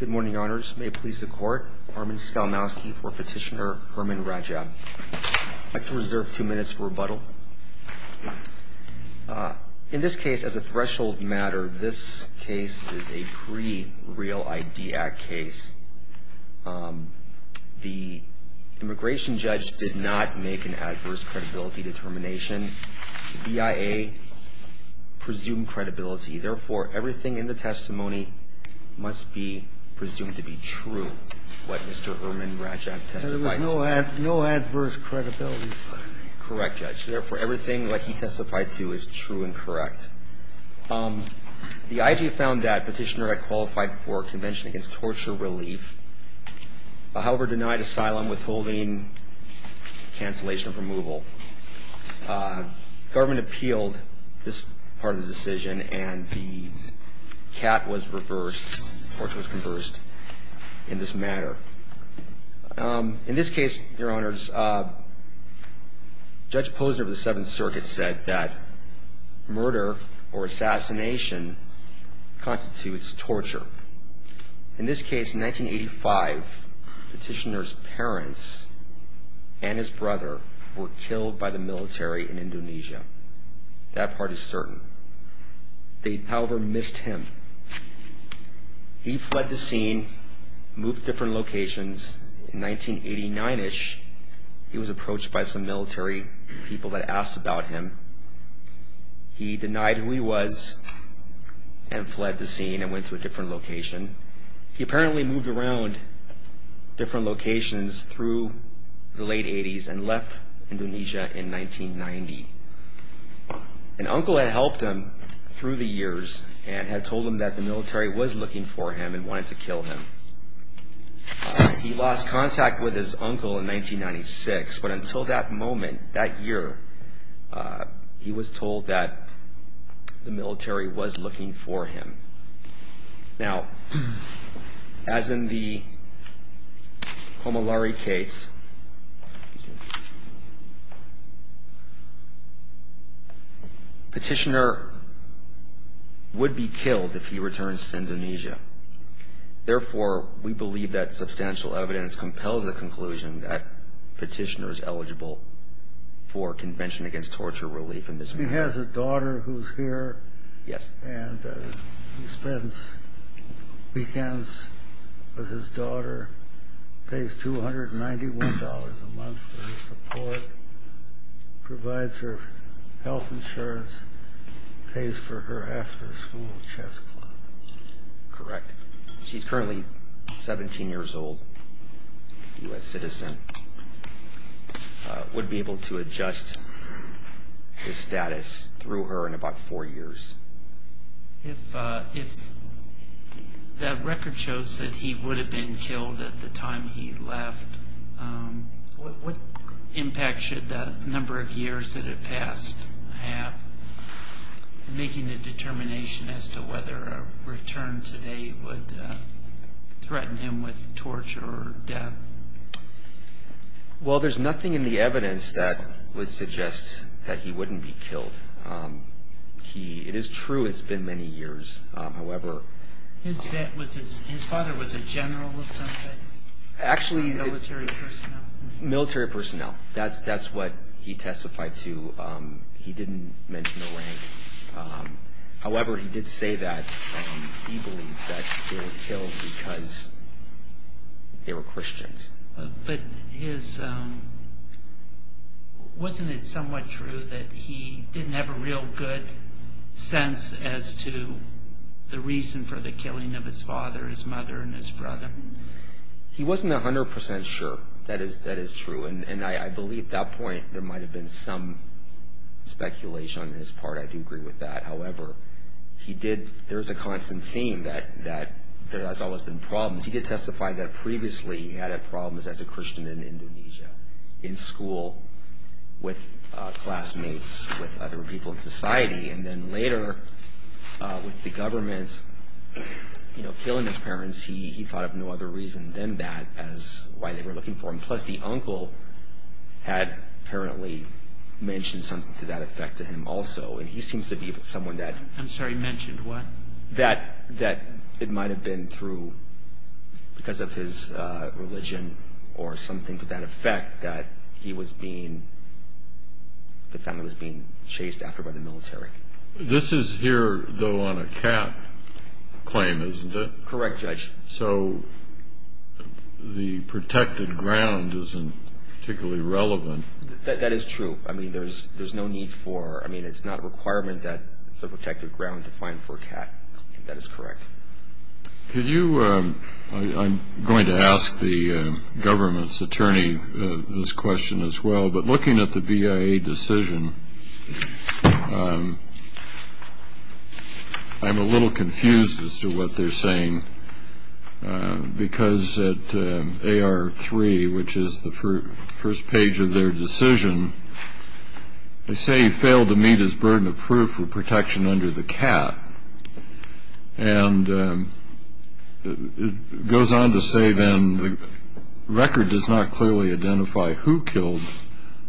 Good morning, Your Honors. May it please the Court, Armin Skalmowski for Petitioner Herman Radjab. I'd like to reserve two minutes for rebuttal. In this case, as a threshold matter, this case is a pre-Real ID Act case. The immigration judge did not make an adverse credibility determination. The BIA presumed credibility. Therefore, everything in the testimony must be presumed to be true, what Mr. Herman Radjab testified to. There was no adverse credibility finding. Correct, Judge. Therefore, everything that he testified to is true and correct. The IG found that Petitioner had qualified for a convention against torture relief, however, denied asylum, withholding cancellation of removal. Government appealed this part of the decision and the cap was reversed. Torture was conversed in this matter. In this case, Your Honors, Judge Posner of the Seventh Circuit said that murder or assassination constitutes torture. In this case, in 1985, Petitioner's parents and his brother were killed by the military in Indonesia. That part is certain. They, however, missed him. He fled the scene, moved to different locations. In 1989-ish, he was approached by some military people that asked about him. He denied who he was and fled the scene and went to a different location. He apparently moved around different locations through the late 80s and left Indonesia in 1990. An uncle had helped him through the years and had told him that the military was looking for him and wanted to kill him. He lost contact with his uncle in 1996, but until that moment, that year, he was told that the military was looking for him. Now, as in the Homolari case, Petitioner would be killed if he returns to Indonesia. Therefore, we believe that substantial evidence compels the conclusion that Petitioner is eligible for Convention Against Torture Relief in this case. He has a daughter who's here. Yes. And he spends weekends with his daughter, pays $291 a month for his support, provides her health insurance, pays for her after-school chess class. Correct. She's currently 17 years old, U.S. citizen. Would be able to adjust his status through her in about four years. If that record shows that he would have been killed at the time he left, what impact should the number of years that have passed have in making a determination as to whether a return today would threaten him with torture or death? Well, there's nothing in the evidence that would suggest that he wouldn't be killed. It is true it's been many years. His father was a general of some kind? Actually, military personnel. That's what he testified to. He didn't mention the rank. However, he did say that he believed that he would be killed because they were Christians. But wasn't it somewhat true that he didn't have a real good sense as to the reason for the killing of his father, his mother, and his brother? He wasn't 100% sure. That is true. And I believe at that point there might have been some speculation on his part. I do agree with that. However, there is a constant theme that there has always been problems. He did testify that previously he had had problems as a Christian in Indonesia, in school, with classmates, with other people in society. And then later with the government killing his parents, he thought of no other reason than that as why they were looking for him. Plus, the uncle had apparently mentioned something to that effect to him also. And he seems to be someone that... I'm sorry, mentioned what? That it might have been because of his religion or something to that effect that the family was being chased after by the military. This is here, though, on a cat claim, isn't it? Correct, Judge. So the protected ground isn't particularly relevant. That is true. I mean, there's no need for... I mean, it's not a requirement that it's a protected ground to find for a cat. That is correct. Could you... I'm going to ask the government's attorney this question as well. But looking at the BIA decision, I'm a little confused as to what they're saying. Because at AR3, which is the first page of their decision, they say he failed to meet his burden of proof for protection under the cat. And it goes on to say, then, the record does not clearly identify who killed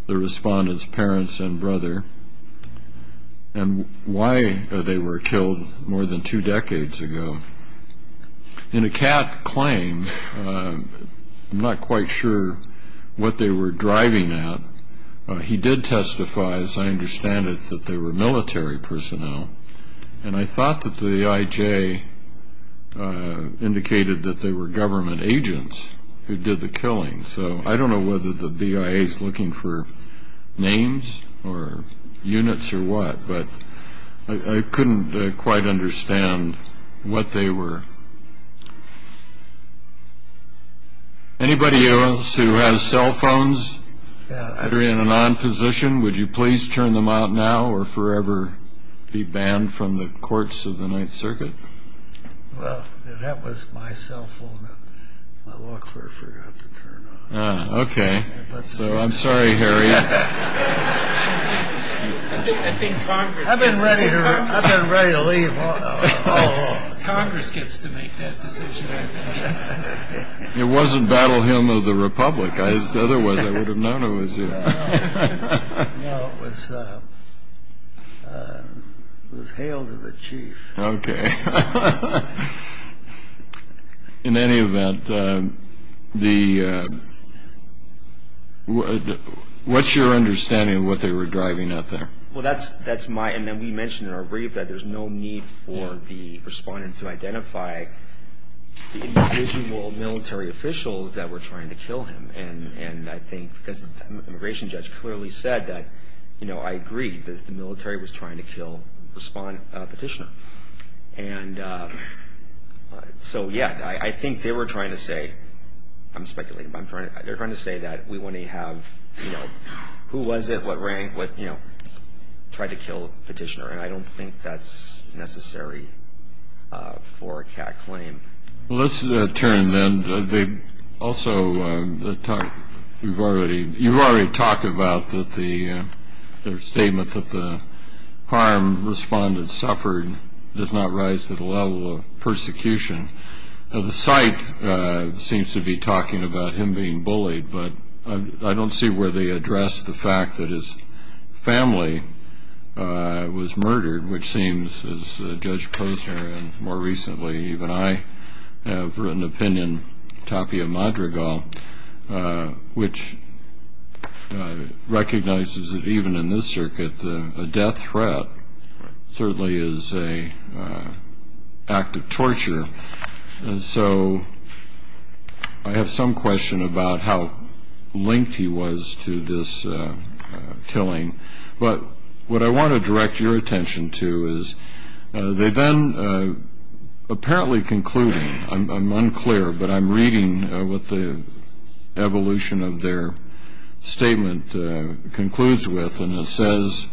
the respondent's parents and brother, and why they were killed more than two decades ago. In a cat claim, I'm not quite sure what they were driving at. He did testify, as I understand it, that they were military personnel. And I thought that the IJ indicated that they were government agents who did the killing. So I don't know whether the BIA is looking for names or units or what, but I couldn't quite understand what they were. Anybody else who has cell phones that are in an on position, would you please turn them out now or forever be banned from the courts of the Ninth Circuit? Well, that was my cell phone that my law clerk forgot to turn on. Ah, okay. So I'm sorry, Harry. I've been ready to leave all along. Congress gets to make that decision, I think. It wasn't Battle Hymn of the Republic, otherwise I would have known it was you. No, it was Hail to the Chief. Okay. In any event, what's your understanding of what they were driving at there? Well, that's my, and then we mentioned in our brief that there's no need for the respondent to identify the individual military officials that were trying to kill him. And I think, because the immigration judge clearly said that, you know, I agree that the military was trying to kill the respondent petitioner. And so, yeah, I think they were trying to say, I'm speculating, but they were trying to say that we want to have, you know, who was it, what rank, what, you know, tried to kill the petitioner. And I don't think that's necessary for a CAT claim. Well, let's turn then. Also, you've already talked about the statement that the harm the respondent suffered does not rise to the level of persecution. The site seems to be talking about him being bullied, but I don't see where they address the fact that his family was murdered, which seems, as Judge Posner and more recently even I have written opinion, Tapia Madrigal, which recognizes that even in this circuit, a death threat certainly is an act of torture. And so I have some question about how linked he was to this killing. But what I want to direct your attention to is they then apparently conclude, I'm unclear, but I'm reading what the evolution of their statement concludes with, and it says,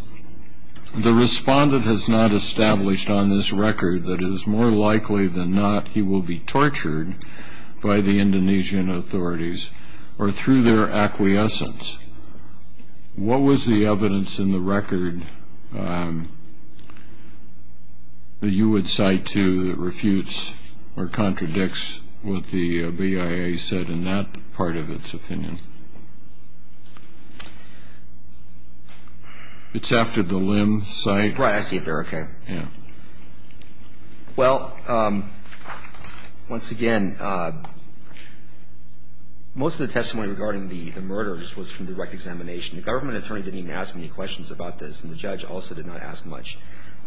the respondent has not established on this record that it is more likely than not he will be tortured by the Indonesian authorities or through their acquiescence. What was the evidence in the record that you would cite to that refutes or contradicts what the BIA said in that part of its opinion? It's after the Lim site. Right. I see if they're okay. Yeah. Well, once again, most of the testimony regarding the murders was from direct examination. The government attorney didn't even ask many questions about this, and the judge also did not ask much.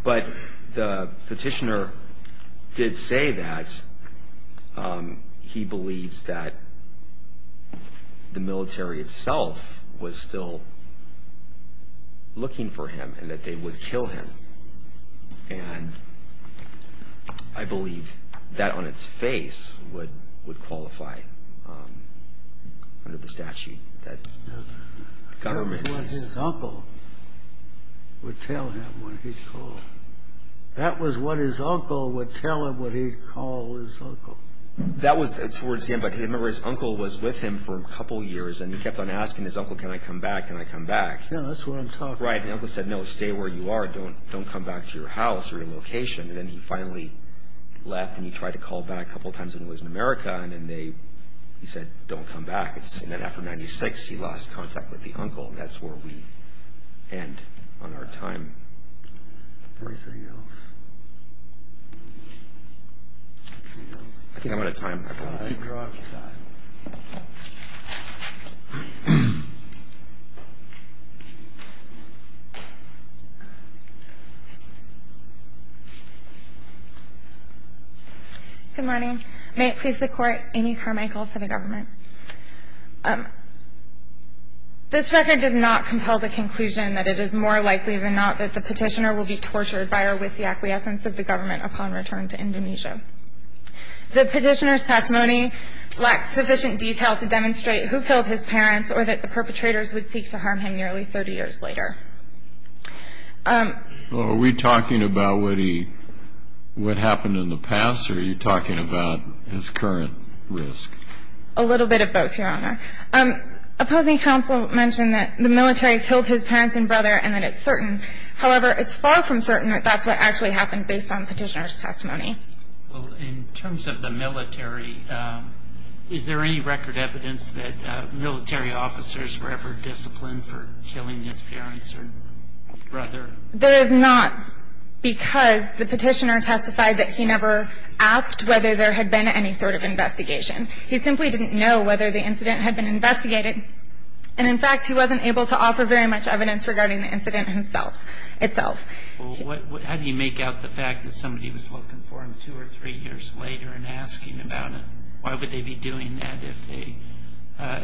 But the petitioner did say that he believes that the military itself was still looking for him and that they would kill him. And I believe that on its face would qualify under the statute that the government... That was what his uncle would tell him what he'd call. That was what his uncle would tell him what he'd call his uncle. That was, for instance, but his uncle was with him for a couple years, and he kept on asking his uncle, can I come back, can I come back? Yeah, that's what I'm talking about. Right. And the uncle said, no, stay where you are, don't come back to your house or your location. And then he finally left, and he tried to call back a couple times when he was in America, and then they said, don't come back. And then after 1996, he lost contact with the uncle. That's where we end on our time. Anything else? I think I'm out of time. I think we're out of time. Good morning. May it please the Court, Amy Carmichael for the government. This record does not compel the conclusion that it is more likely than not that the Petitioner will be tortured by or with the acquiescence of the government upon return to Indonesia. The Petitioner's testimony lacks sufficient detail to demonstrate who killed his parents or that the perpetrators would seek to harm him nearly 30 years later. Are we talking about what happened in the past, or are you talking about his current risk? A little bit of both, Your Honor. Opposing counsel mentioned that the military killed his parents and brother and that it's certain. However, it's far from certain that that's what actually happened based on Petitioner's testimony. Well, in terms of the military, is there any record evidence that military officers were ever disciplined for killing his parents or brother? There is not because the Petitioner testified that he never asked whether there had been any sort of investigation. He simply didn't know whether the incident had been investigated. And, in fact, he wasn't able to offer very much evidence regarding the incident itself. Well, how do you make out the fact that somebody was looking for him two or three years later and asking about it? Why would they be doing that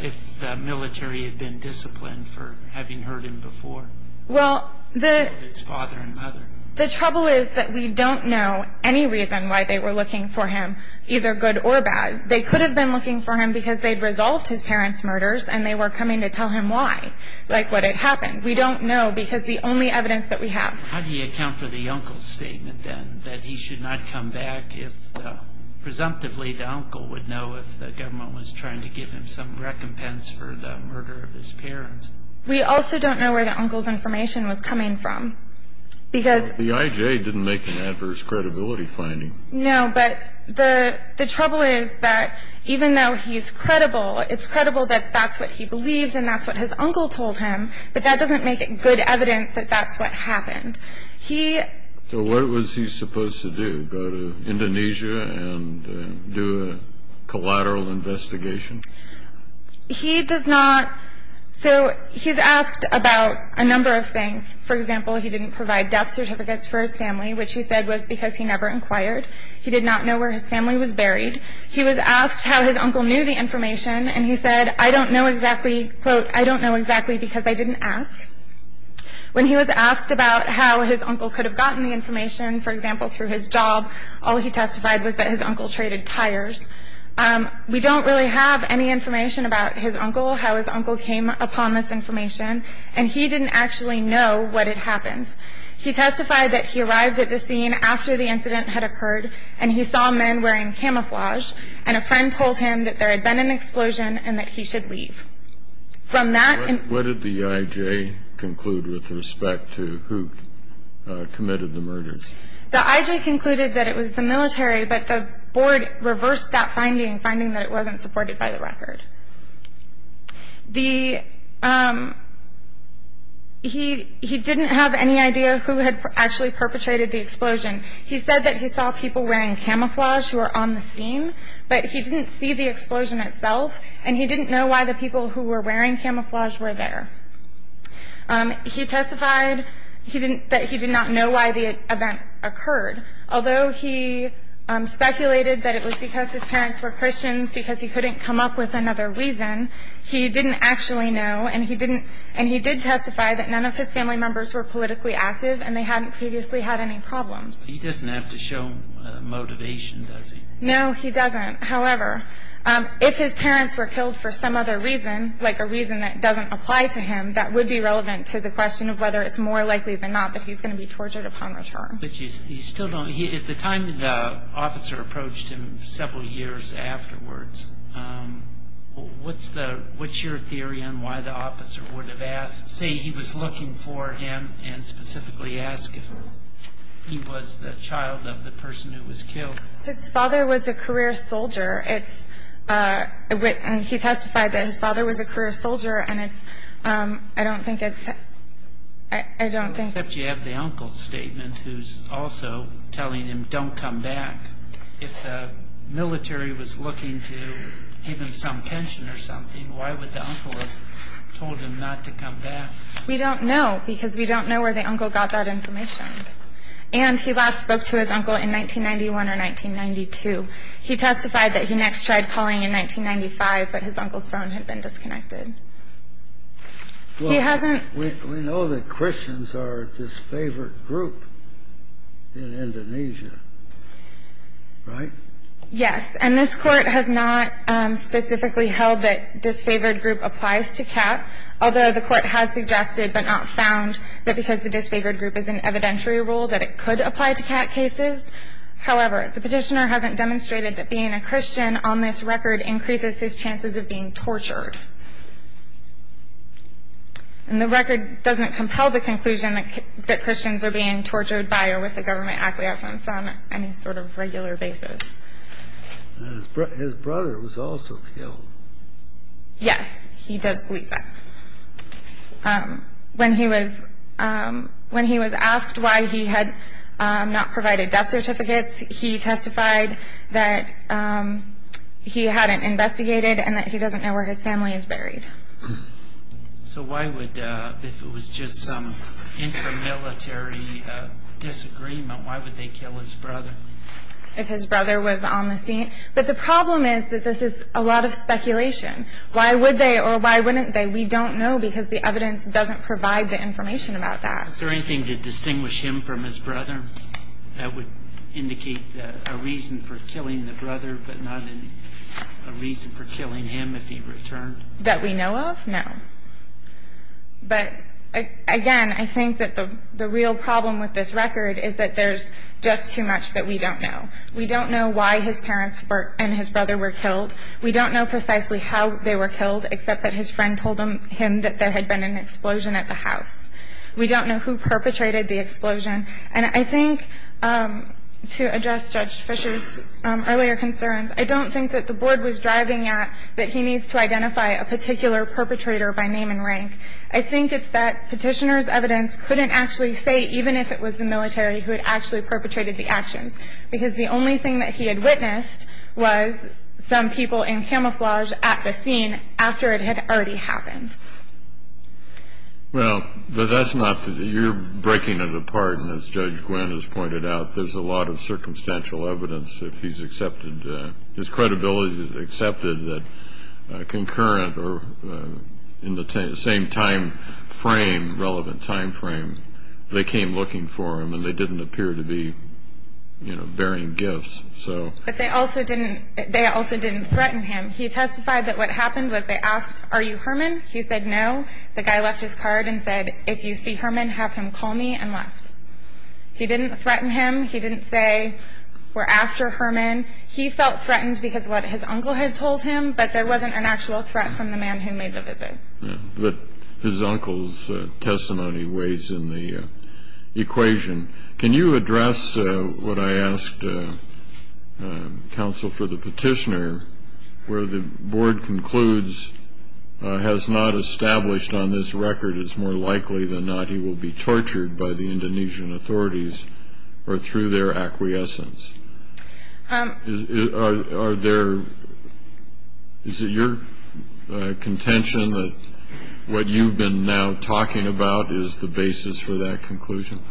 if the military had been disciplined for having hurt him before? Well, the trouble is that we don't know any reason why they were looking for him, either good or bad. They could have been looking for him because they'd resolved his parents' murders and they were coming to tell him why, like what had happened. We don't know because the only evidence that we have. How do you account for the uncle's statement, then, that he should not come back if presumptively the uncle would know if the government was trying to give him some recompense for the murder of his parents? We also don't know where the uncle's information was coming from because Well, the IJ didn't make an adverse credibility finding. No, but the trouble is that even though he's credible, it's credible that that's what he believed and that's what his uncle told him, but that doesn't make it good evidence that that's what happened. So what was he supposed to do, go to Indonesia and do a collateral investigation? So he's asked about a number of things. For example, he didn't provide death certificates for his family, which he said was because he never inquired. He did not know where his family was buried. He was asked how his uncle knew the information, and he said, quote, I don't know exactly because I didn't ask. When he was asked about how his uncle could have gotten the information, for example, through his job, all he testified was that his uncle traded tires. We don't really have any information about his uncle, how his uncle came upon this information, and he didn't actually know what had happened. He testified that he arrived at the scene after the incident had occurred and he saw men wearing camouflage, and a friend told him that there had been an explosion and that he should leave. What did the IJ conclude with respect to who committed the murder? The IJ concluded that it was the military, but the board reversed that finding, finding that it wasn't supported by the record. He didn't have any idea who had actually perpetrated the explosion. He said that he saw people wearing camouflage who were on the scene, but he didn't see the explosion itself, and he didn't know why the people who were wearing camouflage were there. He testified that he did not know why the event occurred. Although he speculated that it was because his parents were Christians because he couldn't come up with another reason, he didn't actually know, and he did testify that none of his family members were politically active and they hadn't previously had any problems. He doesn't have to show motivation, does he? No, he doesn't. However, if his parents were killed for some other reason, like a reason that doesn't apply to him, that would be relevant to the question of whether it's more likely than not that he's going to be tortured upon return. At the time the officer approached him several years afterwards, what's your theory on why the officer would have asked, say he was looking for him, and specifically ask if he was the child of the person who was killed? His father was a career soldier, and he testified that his father was a career soldier, and I don't think it's... Except you have the uncle's statement, who's also telling him, don't come back. If the military was looking to give him some pension or something, why would the uncle have told him not to come back? We don't know, because we don't know where the uncle got that information. And he last spoke to his uncle in 1991 or 1992. He testified that he next tried calling in 1995, but his uncle's phone had been disconnected. He hasn't... Well, we know that Christians are this favorite group in Indonesia, right? Yes. And this Court has not specifically held that disfavored group applies to CAT, although the Court has suggested, but not found, that because the disfavored group is an evidentiary rule, that it could apply to CAT cases. However, the petitioner hasn't demonstrated that being a Christian on this record increases his chances of being tortured. And the record doesn't compel the conclusion that Christians are being tortured by or with the government acquiescence on any sort of regular basis. His brother was also killed. Yes, he does plead that. When he was asked why he had not provided death certificates, he testified that he hadn't investigated So why would, if it was just some intramilitary disagreement, why would they kill his brother? If his brother was on the scene. But the problem is that this is a lot of speculation. Why would they or why wouldn't they? We don't know because the evidence doesn't provide the information about that. Is there anything to distinguish him from his brother that would indicate a reason for killing the brother, but not a reason for killing him if he returned? That we know of? No. But, again, I think that the real problem with this record is that there's just too much that we don't know. We don't know why his parents and his brother were killed. We don't know precisely how they were killed, except that his friend told him that there had been an explosion at the house. We don't know who perpetrated the explosion. And I think, to address Judge Fisher's earlier concerns, I don't think that the board was driving at that he needs to identify a particular perpetrator by name and rank. I think it's that Petitioner's evidence couldn't actually say, even if it was the military who had actually perpetrated the actions, because the only thing that he had witnessed was some people in camouflage at the scene after it had already happened. Well, but that's not the, you're breaking it apart, and as Judge Gwinn has pointed out, there's a lot of circumstantial evidence if he's accepted, his credibility is accepted, that concurrent or in the same time frame, relevant time frame, they came looking for him and they didn't appear to be bearing gifts. But they also didn't threaten him. He testified that what happened was they asked, Are you Herman? He said no. The guy left his card and said, If you see Herman, have him call me and left. He didn't threaten him. He didn't say, We're after Herman. He felt threatened because of what his uncle had told him, but there wasn't an actual threat from the man who made the visit. But his uncle's testimony weighs in the equation. Can you address what I asked counsel for the Petitioner, where the board concludes, has not established on this record it's more likely than not that the body will be tortured by the Indonesian authorities or through their acquiescence. Is it your contention that what you've been now talking about is the basis for that conclusion?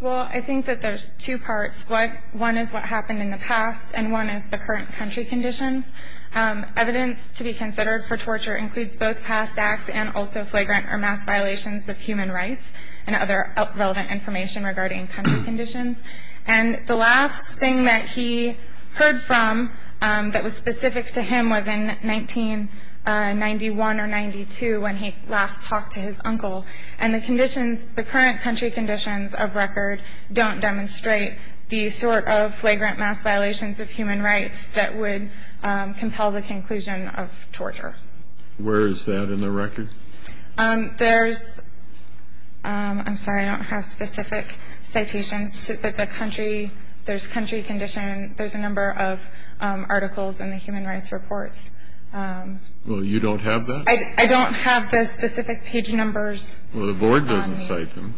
Well, I think that there's two parts. One is what happened in the past, and one is the current country conditions. Evidence to be considered for torture includes both past acts and also flagrant or mass violations of human rights and other relevant information regarding country conditions. And the last thing that he heard from that was specific to him was in 1991 or 92 when he last talked to his uncle. And the current country conditions of record don't demonstrate the sort of flagrant mass violations of human rights that would compel the conclusion of torture. Where is that in the record? There's, I'm sorry, I don't have specific citations, but the country, there's country condition, there's a number of articles in the Human Rights Reports. Well, you don't have that? I don't have the specific page numbers. Well, the board doesn't cite them.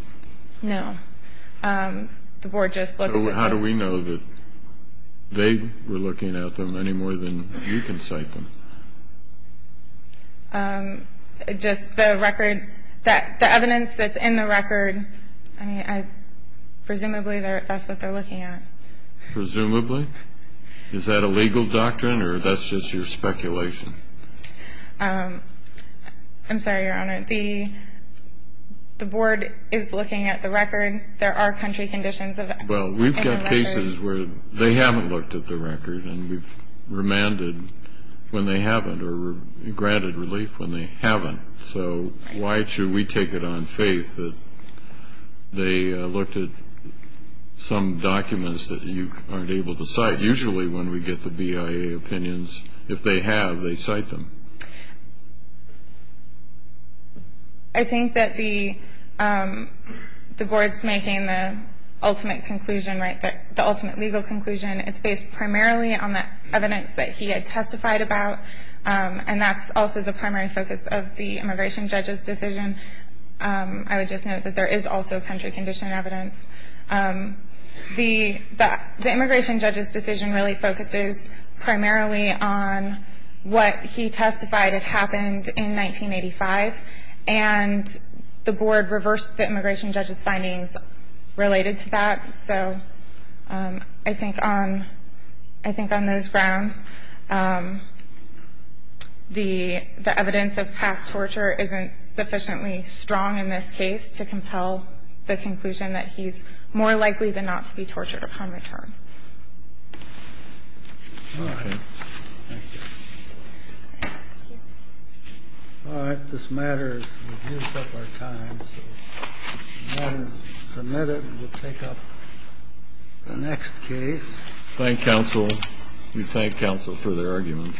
No, the board just looks at them. So how do we know that they were looking at them any more than you can cite them? Just the record, the evidence that's in the record, I mean, presumably that's what they're looking at. Presumably? Is that a legal doctrine or that's just your speculation? I'm sorry, Your Honor, the board is looking at the record. There are country conditions in the record. Well, we've got cases where they haven't looked at the record and we've remanded when they haven't or granted relief when they haven't. So why should we take it on faith that they looked at some documents that you aren't able to cite? Usually when we get the BIA opinions, if they have, they cite them. I think that the board's making the ultimate conclusion, the ultimate legal conclusion is based primarily on the evidence that he had testified about, and that's also the primary focus of the immigration judge's decision. I would just note that there is also country condition evidence. The immigration judge's decision really focuses primarily on what he testified had happened in 1985, and the board reversed the immigration judge's findings related to that. So I think on those grounds, the evidence of past torture isn't sufficiently strong in this case to compel the conclusion that he's more likely than not to be tortured upon return. All right. Thank you. Thank you. All right. This matters. We've used up our time. So the matter is submitted. We'll take up the next case. Thank you, counsel. We thank counsel for their arguments.